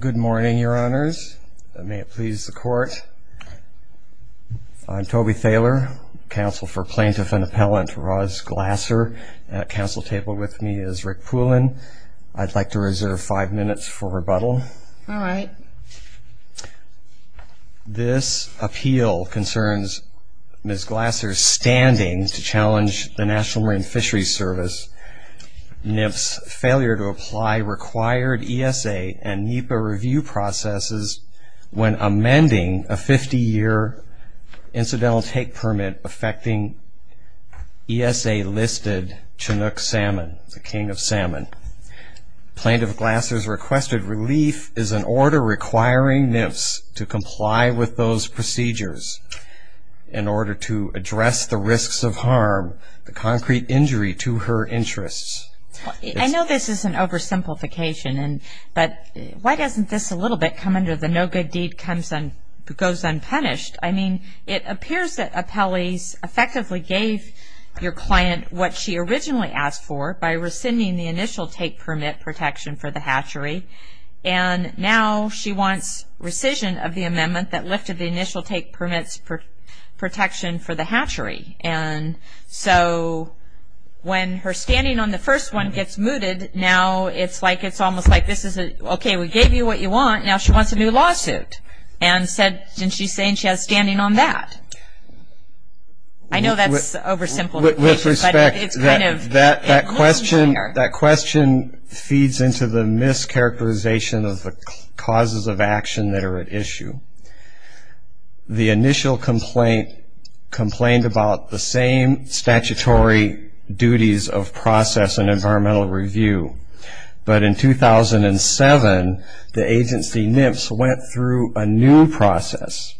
Good morning, your honors. May it please the court. I'm Toby Thaler, counsel for plaintiff and appellant Roz Glasser. At counsel table with me is Rick Poulin. I'd like to reserve five minutes for rebuttal. All right. This appeal concerns Ms. Glasser's standing to challenge the National Marine Fisheries Service, NMFS's failure to apply required ESA and NEPA review processes when amending a 50-year incidental take permit affecting ESA-listed Chinook salmon, the king of salmon. Plaintiff Glasser's requested relief is an order requiring NMFS to comply with those procedures in order to address the risks of harm, the concrete injury to her interests. I know this is an oversimplification, but why doesn't this a little bit come under the no good deed goes unpunished? I mean, it appears that appellees effectively gave your client what she originally asked for by rescinding the initial take permit protection for the hatchery, and now she wants rescission of the amendment that lifted the initial take permits protection for the hatchery. And so when her standing on the first one gets mooted, now it's like it's almost like this is a, okay, we gave you what you want, now she wants a new lawsuit. And she's saying she has standing on that. I know that's oversimplification, but it's kind of a cause and fire. That question feeds into the mischaracterization of the causes of action that are at issue. The initial complaint complained about the same statutory duties of process and environmental review. But in 2007, the agency NMFS went through a new process.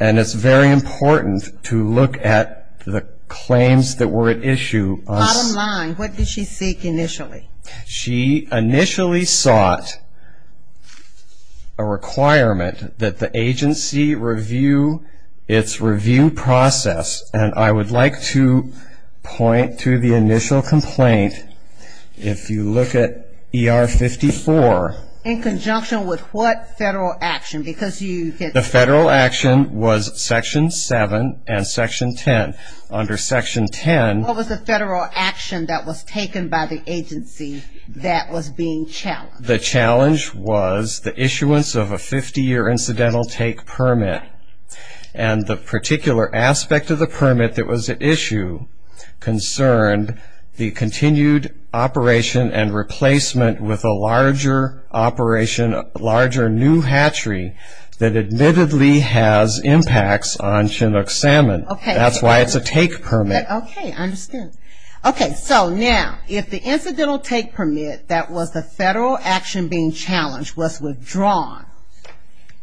And it's very important to look at the claims that were at issue. Bottom line, what did she seek initially? She initially sought a requirement that the agency review its review process. And I would like to point to the initial complaint. If you look at ER 54. In conjunction with what federal action? Because you get... The federal action was Section 7 and Section 10. Under Section 10... What was the federal action that was taken by the agency that was being challenged? The challenge was the issuance of a 50-year incidental take permit. And the particular aspect of the permit that was at issue concerned the continued operation and replacement with a larger operation, larger new hatchery that admittedly has impacts on Chinook salmon. That's why it's a take permit. Okay. I understand. Okay. So now, if the incidental take permit that was the federal action being challenged was withdrawn,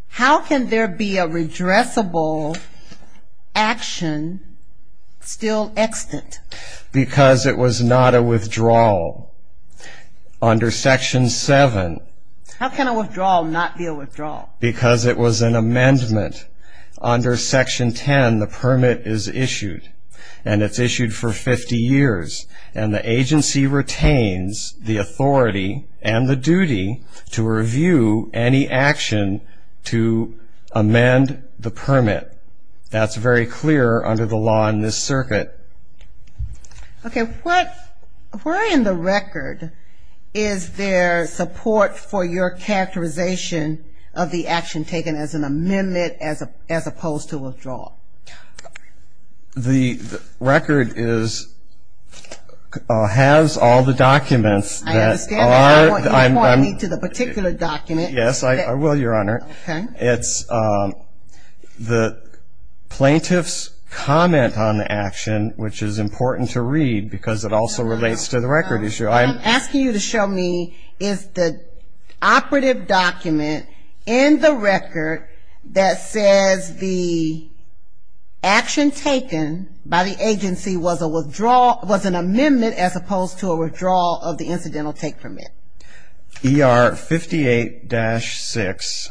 how can there be a redressable action still extant? Because it was not a withdrawal. Under Section 7... How can a withdrawal not be a withdrawal? Because it was an amendment. Under Section 10, the permit is issued. And it's issued for 50 years. And the agency retains the authority and the duty to review any action to amend the permit. That's very clear under the law in this circuit. Okay. What... Where in the record is there support for your characterization of the action taken as an amendment as opposed to a withdrawal? The record is... Has all the documents that are... I understand that. You're pointing me to the particular document. Yes, I will, Your Honor. Okay. It's the plaintiff's comment on the action, which is important to read because it also relates to the record issue. What I'm asking you to show me is the operative document in the record that says the action taken by the agency was a withdrawal... Was an amendment as opposed to a withdrawal of the incidental take permit. ER 58-6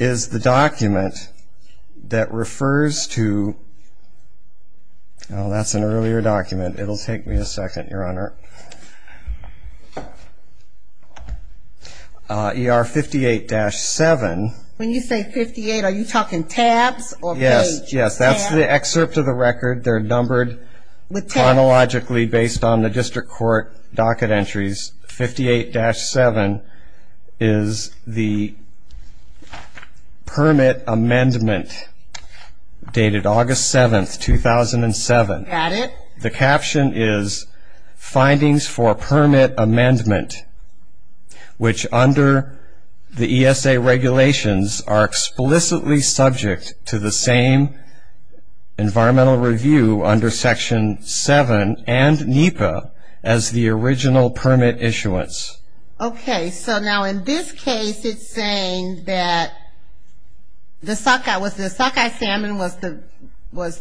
is the document that refers to... Oh, that's an earlier document. It'll take me a second, Your Honor. ER 58-7... When you say 58, are you talking tabs or page? Yes, that's the excerpt of the record. They're numbered chronologically based on the district court docket entries. 58-7 is the permit amendment dated August 7th, 2007. Got it. The caption is, findings for permit amendment, which under the ESA regulations are explicitly subject to the same environmental review under Section 7 and NEPA as the original permit issuance. Okay. So now in this case, it's saying that the sockeye salmon was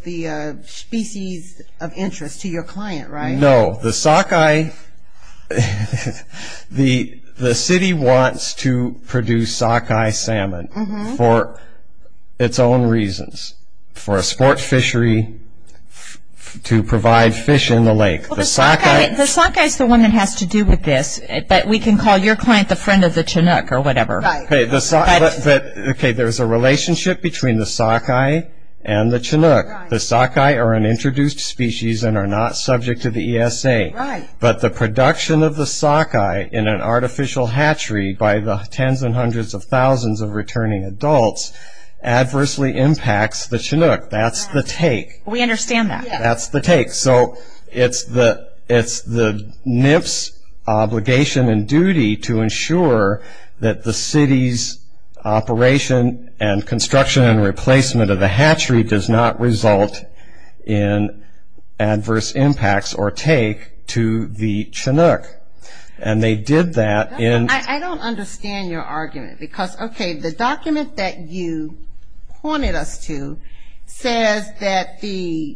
the species of interest to your client, right? No. The sockeye... The city wants to produce sockeye salmon for its own reasons. For a sports fishery to provide fish in the lake. Well, the sockeye is the one that has to do with this, but we can call your client the friend of the Chinook or whatever. Right. Okay, there's a relationship between the sockeye and the Chinook. The sockeye are an introduced species and are not subject to the ESA, but the production of the sockeye in an artificial hatchery by the tens and hundreds of thousands of returning adults adversely impacts the Chinook. That's the take. We understand that. That's the take. So it's the NIP's obligation and duty to ensure that the city's operation and construction and replacement of the hatchery does not result in adverse impacts or take to the Chinook. And they did that in... I don't understand your argument because, okay, the document that you pointed us to says that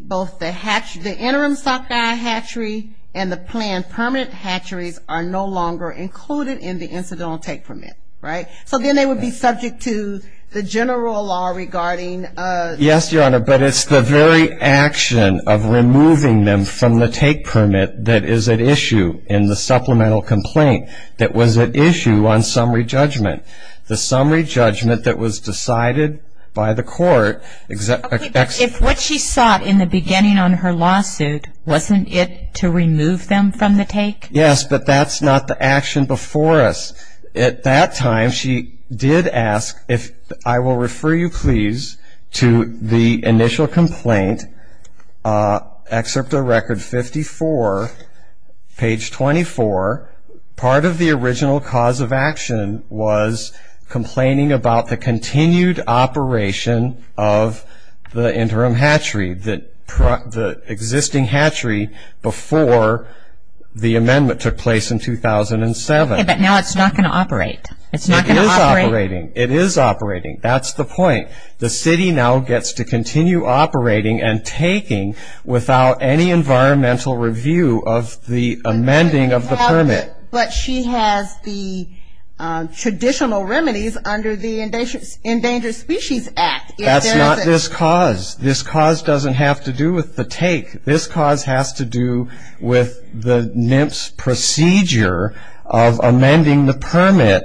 both the interim sockeye hatchery and the planned permanent hatcheries are no longer included in the incidental take permit, right? So then they would be subject to the general law regarding... Yes, Your Honor, but it's the very action of removing them from the take permit that is at issue in the supplemental complaint that was at issue on summary judgment. The summary judgment that was decided by the court... Okay, but if what she sought in the beginning on her lawsuit wasn't it to remove them from the take? Yes, but that's not the action before us. At that time she did ask if I will the initial complaint, excerpt of record 54, page 24, part of the original cause of action was complaining about the continued operation of the interim hatchery, the existing hatchery before the amendment took place in 2007. Okay, but now it's not going to operate. It's not going to operate... It is operating. That's the point. The city now gets to continue operating and taking without any environmental review of the amending of the permit. But she has the traditional remedies under the Endangered Species Act. That's not this cause. This cause doesn't have to do with the take. This cause has to do with the NMPS procedure of amending the permit.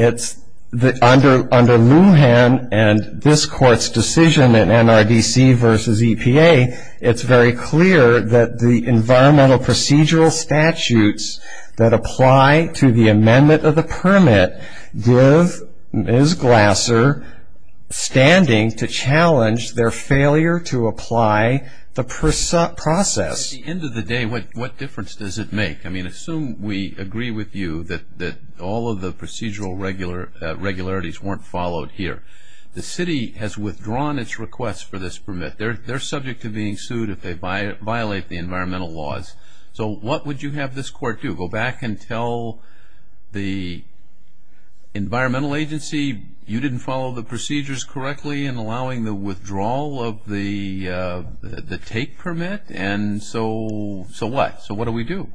Under Lujan and this court's decision in NRDC v. EPA, it's very clear that the environmental procedural statutes that apply to the amendment of the permit give Ms. Glasser standing to challenge their failure to apply the process. At the end of the day, what difference does it make? I mean, assume we agree with you that all of the procedural regularities weren't followed here. The city has withdrawn its request for this permit. They're subject to being sued if they violate the environmental laws. So what would you have this court do? Go back and tell the environmental agency, you didn't follow the procedures correctly in So what? So what do we do?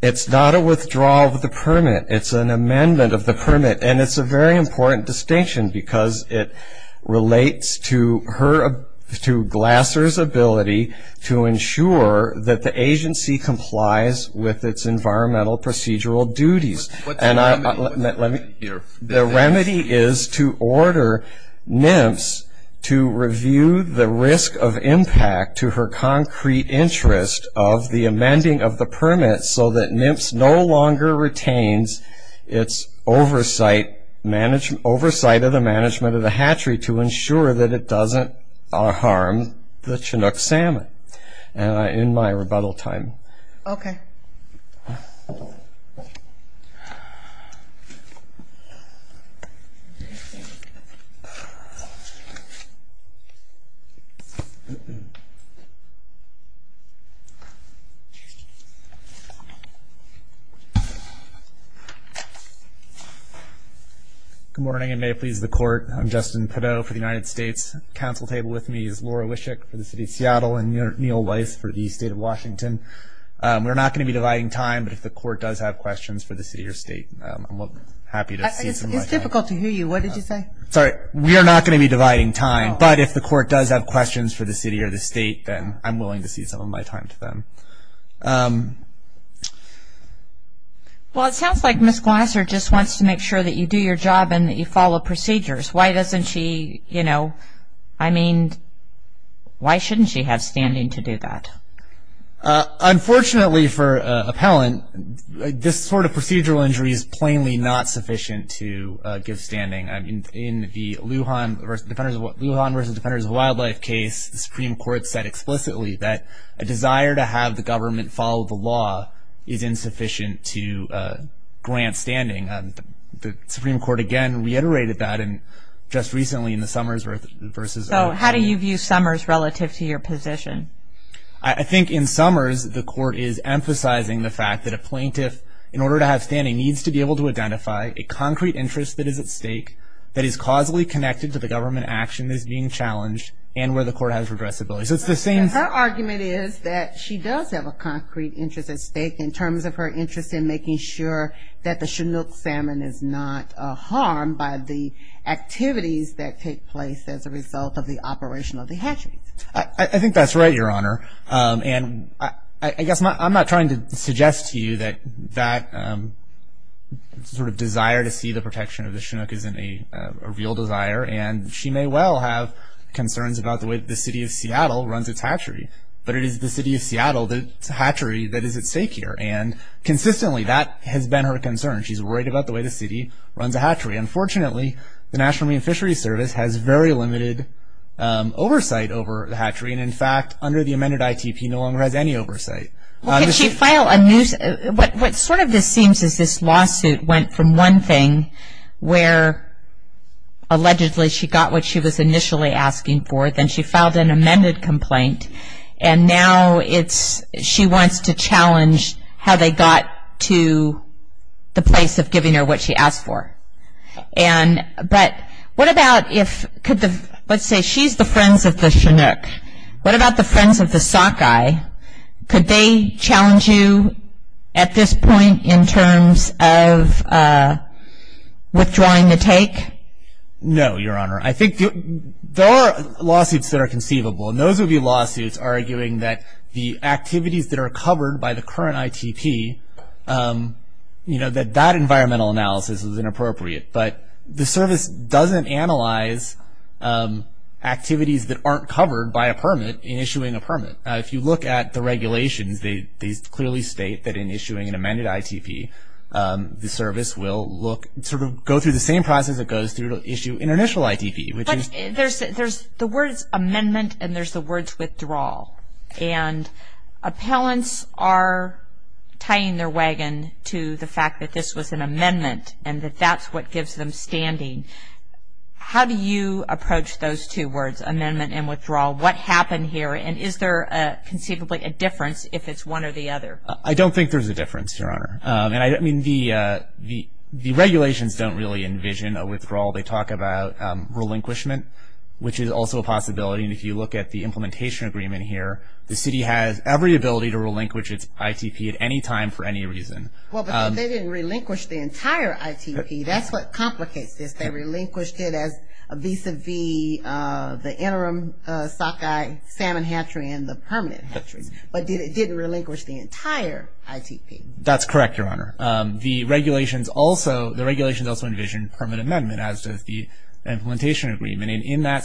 It's not a withdrawal of the permit. It's an amendment of the permit. And it's a very important distinction because it relates to Glasser's ability to ensure that the agency complies with its environmental procedural duties. The remedy is to order NMPS to review the risk of impact to her concrete interest of the amending of the permit so that NMPS no longer retains its oversight of the management of the hatchery to ensure that it doesn't harm the Chinook Salmon. And I end my rebuttal time. Okay. Good morning and may it please the court. I'm Justin Pideaux for the United States. Council table with me is Laura Wischik for the city of Seattle and Neil Weiss for the state of Washington. We're not going to be dividing time, but if the court does have questions for the city or state, I'm happy to see some. It's difficult to hear you. What did you say? Sorry. We are not going to be dividing time, but if the court does have questions for the city or the state, then I'm willing to see some of my time to them. Well, it sounds like Ms. Glasser just wants to make sure that you do your job and that you follow procedures. Why doesn't she, you know, I mean, why shouldn't she have standing to do that? Unfortunately for appellant, this sort of I mean, in the Lujan versus Defenders of Wildlife case, the Supreme Court said explicitly that a desire to have the government follow the law is insufficient to grant standing. The Supreme Court, again, reiterated that and just recently in the Summers versus... So, how do you view Summers relative to your position? I think in Summers, the court is emphasizing the fact that a plaintiff, in order to have standing, needs to be able to identify a concrete interest that is at stake, that is causally connected to the government action that is being challenged, and where the court has regressibility. So, it's the same... Her argument is that she does have a concrete interest at stake in terms of her interest in making sure that the Chinook salmon is not harmed by the activities that take place as a result of the operation of the hatcheries. I think that's right, Your Honor, and I guess I'm not trying to suggest to you that that sort of desire to see the protection of the Chinook isn't a real desire, and she may well have concerns about the way the city of Seattle runs its hatchery, but it is the city of Seattle, the hatchery that is at stake here, and consistently that has been her concern. She's worried about the way the city runs a hatchery. Unfortunately, the National Marine Fisheries Service has very limited oversight over the hatchery, and in fact, under the amended ITP, no one has any oversight. What sort of this seems is this lawsuit went from one thing where allegedly she got what she was initially asking for, then she filed an amended complaint, and now she wants to challenge how they got to the place of giving her what she asked for. But what about if, let's say she's the friends of the Chinook, what about the friends of the sockeye? Could they challenge you at this point in terms of withdrawing the take? No, Your Honor. I think there are lawsuits that are conceivable, and those would be lawsuits arguing that the activities that are covered by the current ITP, you know, that that environmental analysis is inappropriate, but the service doesn't analyze activities that aren't covered by a permit in issuing a permit. If you look at the regulations, they clearly state that in issuing an amended ITP, the service will look, sort of go through the same process it goes through to issue an initial ITP. There's the words amendment, and there's the words withdrawal, and appellants are tying their wagon to the fact that this was an amendment, and that that's what gives them standing. How do you approach those two words, amendment and withdrawal? What happened here, and is there conceivably a difference if it's one or the other? I don't think there's a difference, Your Honor, and I mean the regulations don't really envision a withdrawal. They talk about relinquishment, which is also a possibility, and if you look at the implementation agreement here, the city has every ability to relinquish its ITP at any time for any reason. Well, but they didn't relinquish the entire ITP. That's what complicates this. They relinquished it as a vis-a-vis the interim sockeye salmon hatchery and the permanent hatcheries, but it didn't relinquish the entire ITP. That's correct, Your Honor. The regulations also, the regulations also envision permanent amendment, as does the implementation agreement, and in that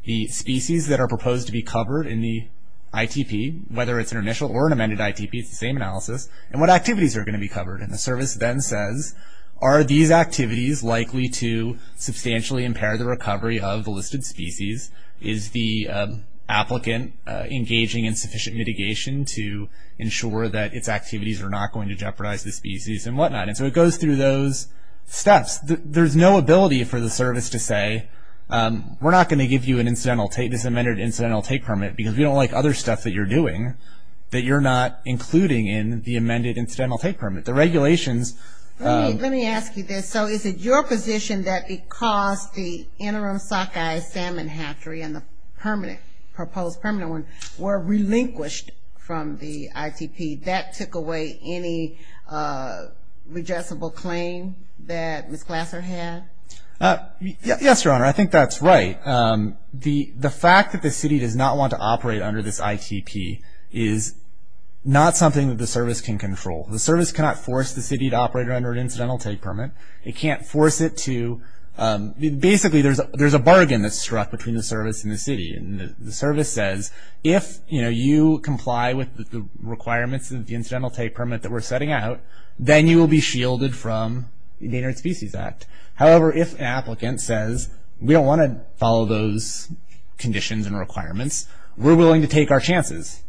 the species that are proposed to be covered in the ITP, whether it's an initial or an amended ITP, it's the same analysis, and what activities are going to be covered, and the service then says, are these activities likely to substantially impair the recovery of the listed species? Is the applicant engaging in sufficient mitigation to ensure that its activities are not going to jeopardize the species and whatnot, and so it goes through those steps. There's no ability for the service to say, we're not going to give you this amended incidental take permit because we don't like other stuff that you're doing that you're not including in the amended incidental take permit. The regulations Let me ask you this. So is it your position that because the interim sockeye salmon hatchery and the proposed permanent one were relinquished from the Yes, Your Honor, I think that's right. The fact that the city does not want to operate under this ITP is not something that the service can control. The service cannot force the city to operate under an incidental take permit. It can't force it to, basically there's a bargain that's struck between the service and the city, and the service says, if you comply with the requirements of the incidental take permit that we're setting out, then you will be shielded from the Endangered Species Act. However, if an applicant says, we don't want to follow those conditions and requirements, we're willing to take our chances.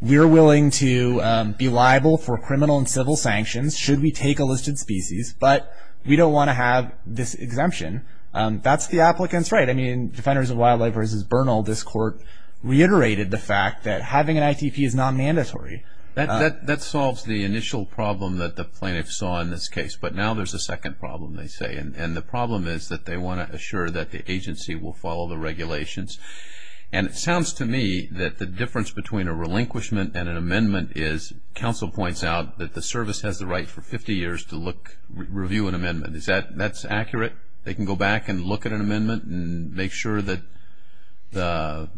We're willing to be liable for criminal and civil sanctions should we take a listed species, but we don't want to have this exemption. That's the applicant's right. I mean, Defenders of Wildlife v. Bernal, this court reiterated the fact that having an ITP is not mandatory. That solves the initial problem that the plaintiff saw in this case, but now there's a second problem, they say. And the problem is that they want to assure that the agency will follow the regulations. And it sounds to me that the difference between a relinquishment and an amendment is, counsel points out, that the service has the right for 50 years to look, review an amendment. Is that accurate? They can go back and look at an amendment and make sure that the...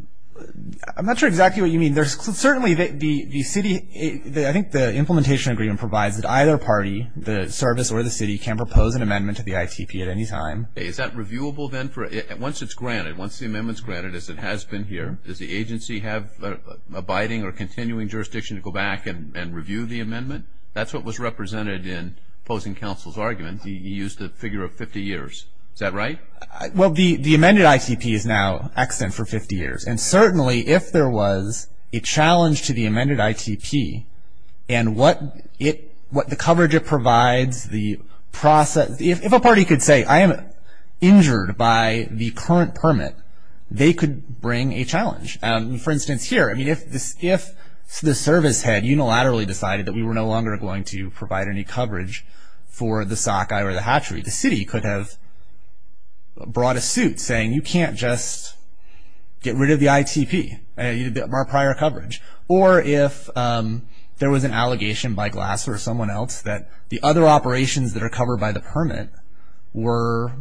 I'm not sure exactly what you mean. There's certainly the city, I think the implementation agreement provides that either party, the service or the city, can propose an amendment to the ITP at any time. Is that reviewable then for, once it's granted, once the amendment's granted, as it has been here, does the agency have abiding or continuing jurisdiction to go back and review the amendment? That's what was represented in opposing counsel's argument. He used the figure of 50 years. Is that right? Well, the amended ITP is now extant for 50 years. And certainly if there was a challenge to the amended ITP and what the coverage it provides, the process... If a party could say, I am injured by the current permit, they could bring a challenge. For instance, here, if the service had unilaterally decided that we were no longer going to provide any coverage for the sockeye or the hatchery, the city could have brought a suit saying, you can't just get rid of the ITP. You did our prior coverage. Or if there was an allegation by Glass or someone else that the other operations that are covered by the permit were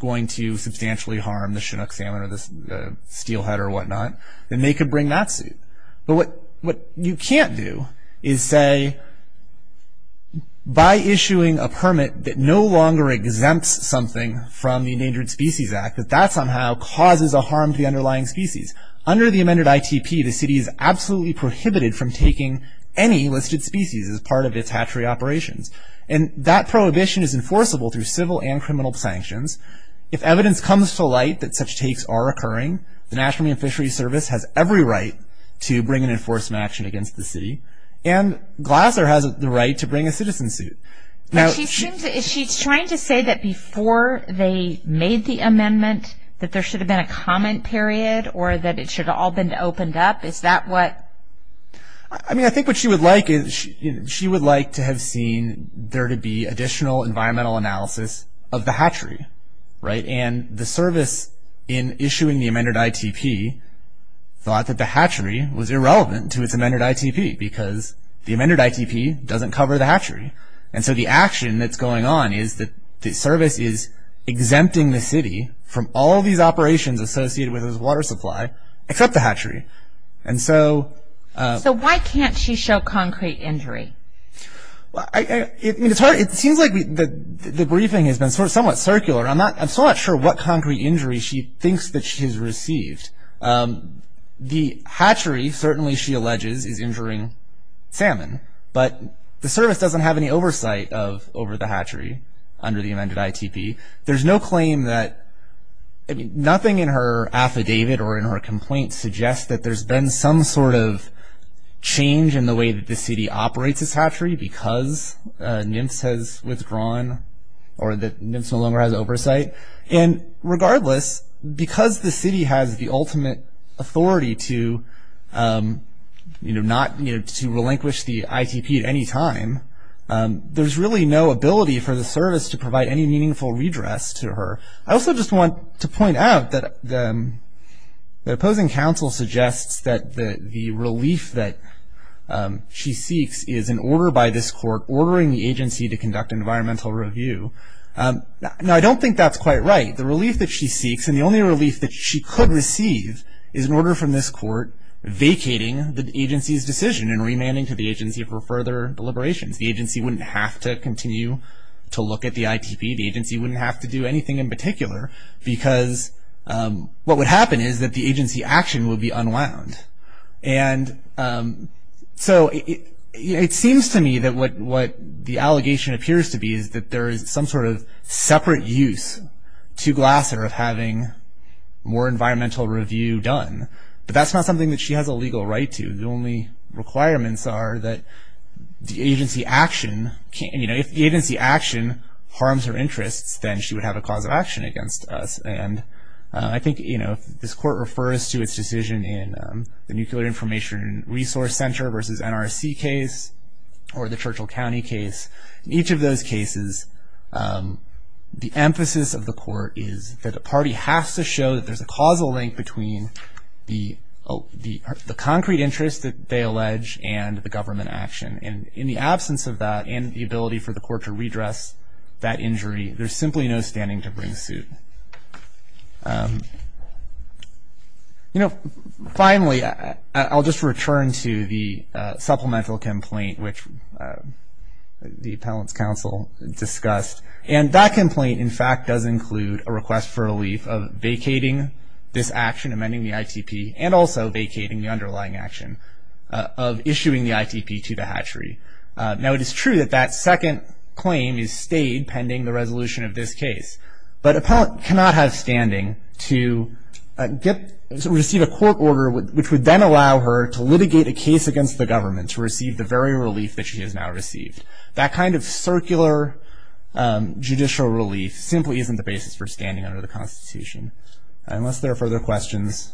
going to substantially harm the Chinook salmon or the steelhead or whatnot, then they could bring that suit. But what you can't do is say, by issuing a permit that no longer exempts something from the Endangered Species Act, that that somehow causes a harm to the underlying species. Under the amended ITP, the city is absolutely prohibited from taking any listed species as part of its hatchery operations. And that prohibition is enforceable through civil and criminal sanctions. If evidence comes to light that such takes are occurring, the National Marine Fisheries Service has every right to bring an enforcement action against the city. And Glasser has the right to bring a citizen suit. Now, she's trying to say that before they made the amendment, that there should have been a comment period or that it should have all been opened up. Is that what? I mean, I think what she would like is she would like to have seen there to be additional environmental analysis of the hatchery, right? And the service in issuing the amended ITP thought that the hatchery was irrelevant to its amended ITP, because the amended ITP doesn't cover the hatchery. And so the action that's going on is that the service is exempting the city from all these operations associated with its water supply, except the hatchery. And so... So why can't she show concrete injury? Well, I mean, it's hard. It seems like the briefing has been sort of somewhat circular. I'm not, I'm so not sure what concrete injury she thinks that she's received. The hatchery, certainly, she alleges is injuring salmon, but the service doesn't have any oversight of over the hatchery under the amended ITP. There's no claim that, I mean, nothing in her affidavit or in her complaint suggests that there's been some sort of change in the way that the city operates this hatchery because Nymphs has withdrawn or that Nymphs no longer has oversight. And regardless, because the city has the ultimate authority to, you know, not to relinquish the ITP at any time, there's really no ability for the service to provide any meaningful redress to her. I also just want to point out that the opposing counsel suggests that the relief that she seeks is an order by this court ordering the agency to conduct environmental review. Now, I don't think that's quite right. The relief that she seeks and the only relief that she could receive is an order from this court vacating the agency's decision and remanding to the agency for further deliberations. The agency wouldn't have to continue to look at the ITP. The agency wouldn't have to do anything in particular because what would happen is that the agency action will be unwound. And so it seems to me that what the allegation appears to be is that there is some sort of separate use to Glasser of having more environmental review done. But that's not something that she has a legal right to. The only requirements are that the agency action can, you know, if the agency action harms her interests, then she would have a cause of action against us. And I think, you know, if this court refers to its decision in the Nuclear Information Resource Center versus NRC case or the Churchill County case, each of those cases, the emphasis of the court is that a party has to show that there's a causal link between the concrete interest that they allege and the government action. And in the absence of that and the ability for the court to redress that injury, there's simply no standing to bring suit. You know, finally, I'll just return to the supplemental complaint which the Appellant's Counsel discussed. And that complaint, in fact, does include a request for relief of vacating this action, amending the ITP, and also vacating the underlying action of issuing the ITP to the hatchery. Now, it is true that that second claim is stayed pending the resolution of this case, but Appellant cannot have standing to receive a court order which would then allow her to litigate a case against the government to receive the very relief that she has now received. That kind of circular judicial relief simply isn't the basis for standing under the Constitution. Unless there are further questions.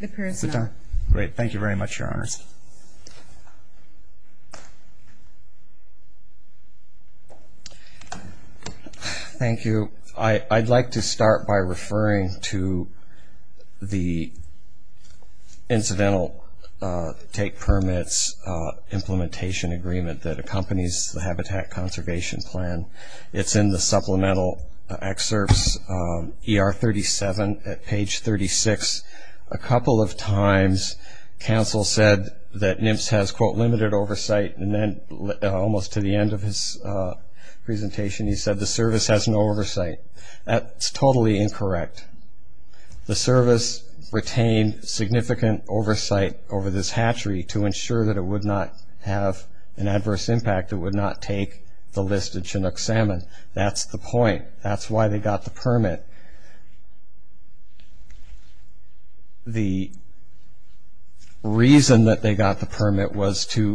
The period's up. Great. Thank you very much, Your Honors. Thank you. I'd like to start by referring to the Incidental Take Permits Implementation Agreement that accompanies the Habitat Conservation Plan. It's in the Supplemental Excerpts, ER 37, at page 36. A couple of times, counsel said that NIMS has, quote, limited oversight. And then, almost to the end of his presentation, he said the service has no oversight. That's totally incorrect. The service retained significant oversight over this hatchery to ensure that it would not have an adverse impact. It would not take the list of Chinook salmon. That's the point. That's why they got the permit. The reason that they got the permit was to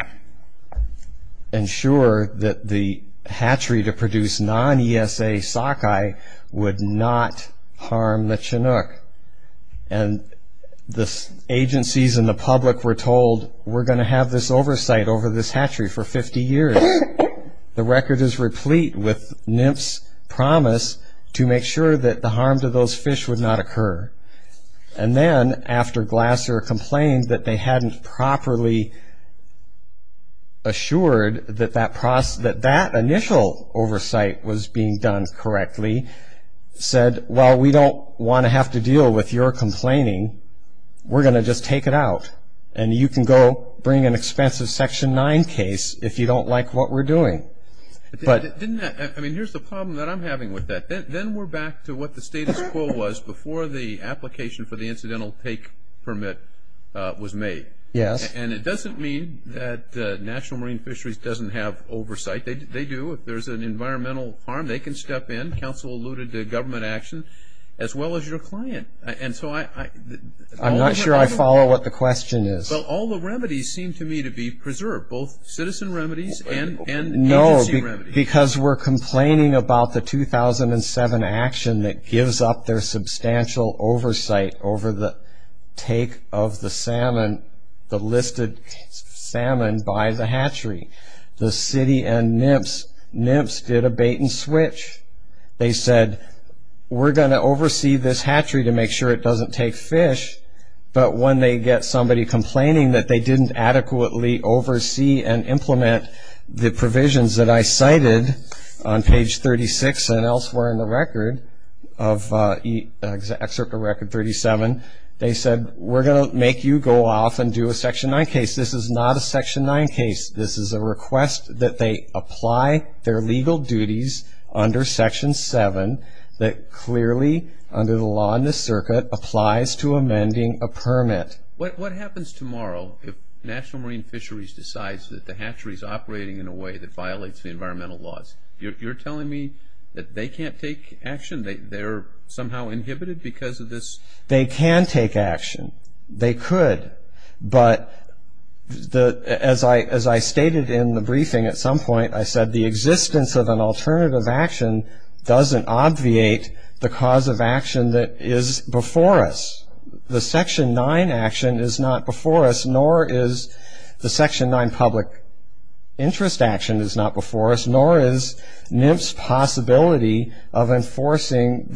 ensure that the hatchery to produce non-ESA sockeye would not harm the Chinook. And the agencies and the public were told, we're going to have this oversight over this hatchery for 50 years. The record is replete with NIMS promise to make sure that the harm to those fish would not occur. And then, after Glasser complained that they hadn't properly assured that that initial oversight was being done correctly, said, well, we don't want to have to deal with your complaining. We're going to just take it out. And you can go bring an expensive Section 9 case if you don't like what we're doing. But didn't that, I mean, here's the problem that I'm having with that. Then we're back to what the status quo was before the application for the incidental take permit was made. Yes. And it doesn't mean that National Marine Fisheries doesn't have oversight. They do. If there's an environmental harm, they can step in. Council alluded to government action, as well as your client. And so, I'm not sure I follow what the question is. But all the remedies seem to me to be preserved, both citizen remedies and agency remedies. No, because we're complaining about the 2007 action that gives up their substantial oversight over the take of the salmon, the listed salmon by the They said, we're going to oversee this hatchery to make sure it doesn't take fish. But when they get somebody complaining that they didn't adequately oversee and implement the provisions that I cited on page 36 and elsewhere in the record of Excerpt of Record 37, they said, we're going to make you go off and do a Section 9 case. This is not a Section 9 case. This is a request that they apply their legal duties under Section 7 that clearly, under the law in the circuit, applies to amending a permit. What happens tomorrow if National Marine Fisheries decides that the hatchery is operating in a way that violates the environmental laws? You're telling me that they can't take action? They're somehow inhibited because of this? They can take action. They could. But as I stated in the briefing at some point, I said the existence of an alternative action doesn't obviate the cause of action that is before us. The Section 9 action is not before us, nor is the Section 9 public interest action is not before us, nor is NIMP's possibility of HCP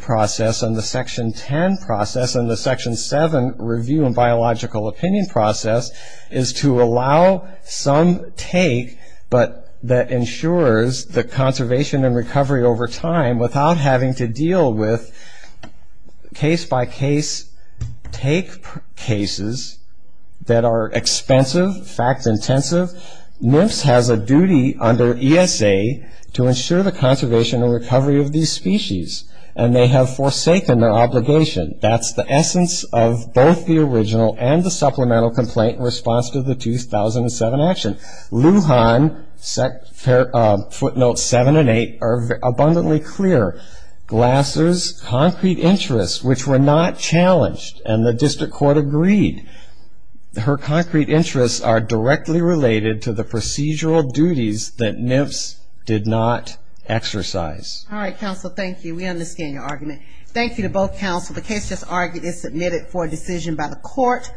process and the Section 10 process and the Section 7 review and biological opinion process is to allow some take, but that ensures the conservation and recovery over time without having to deal with case-by-case take cases that are expensive, fact-intensive. NIMPS has a duty under ESA to ensure the and they have forsaken their obligation. That's the essence of both the original and the supplemental complaint in response to the 2007 action. Lujan, footnotes 7 and 8 are abundantly clear. Glasser's concrete interests, which were not challenged, and the district court agreed, her concrete interests are directly related to the procedural duties that NIMPS did not understand your argument. Thank you to both counsel. The case just argued is submitted for a decision by the court.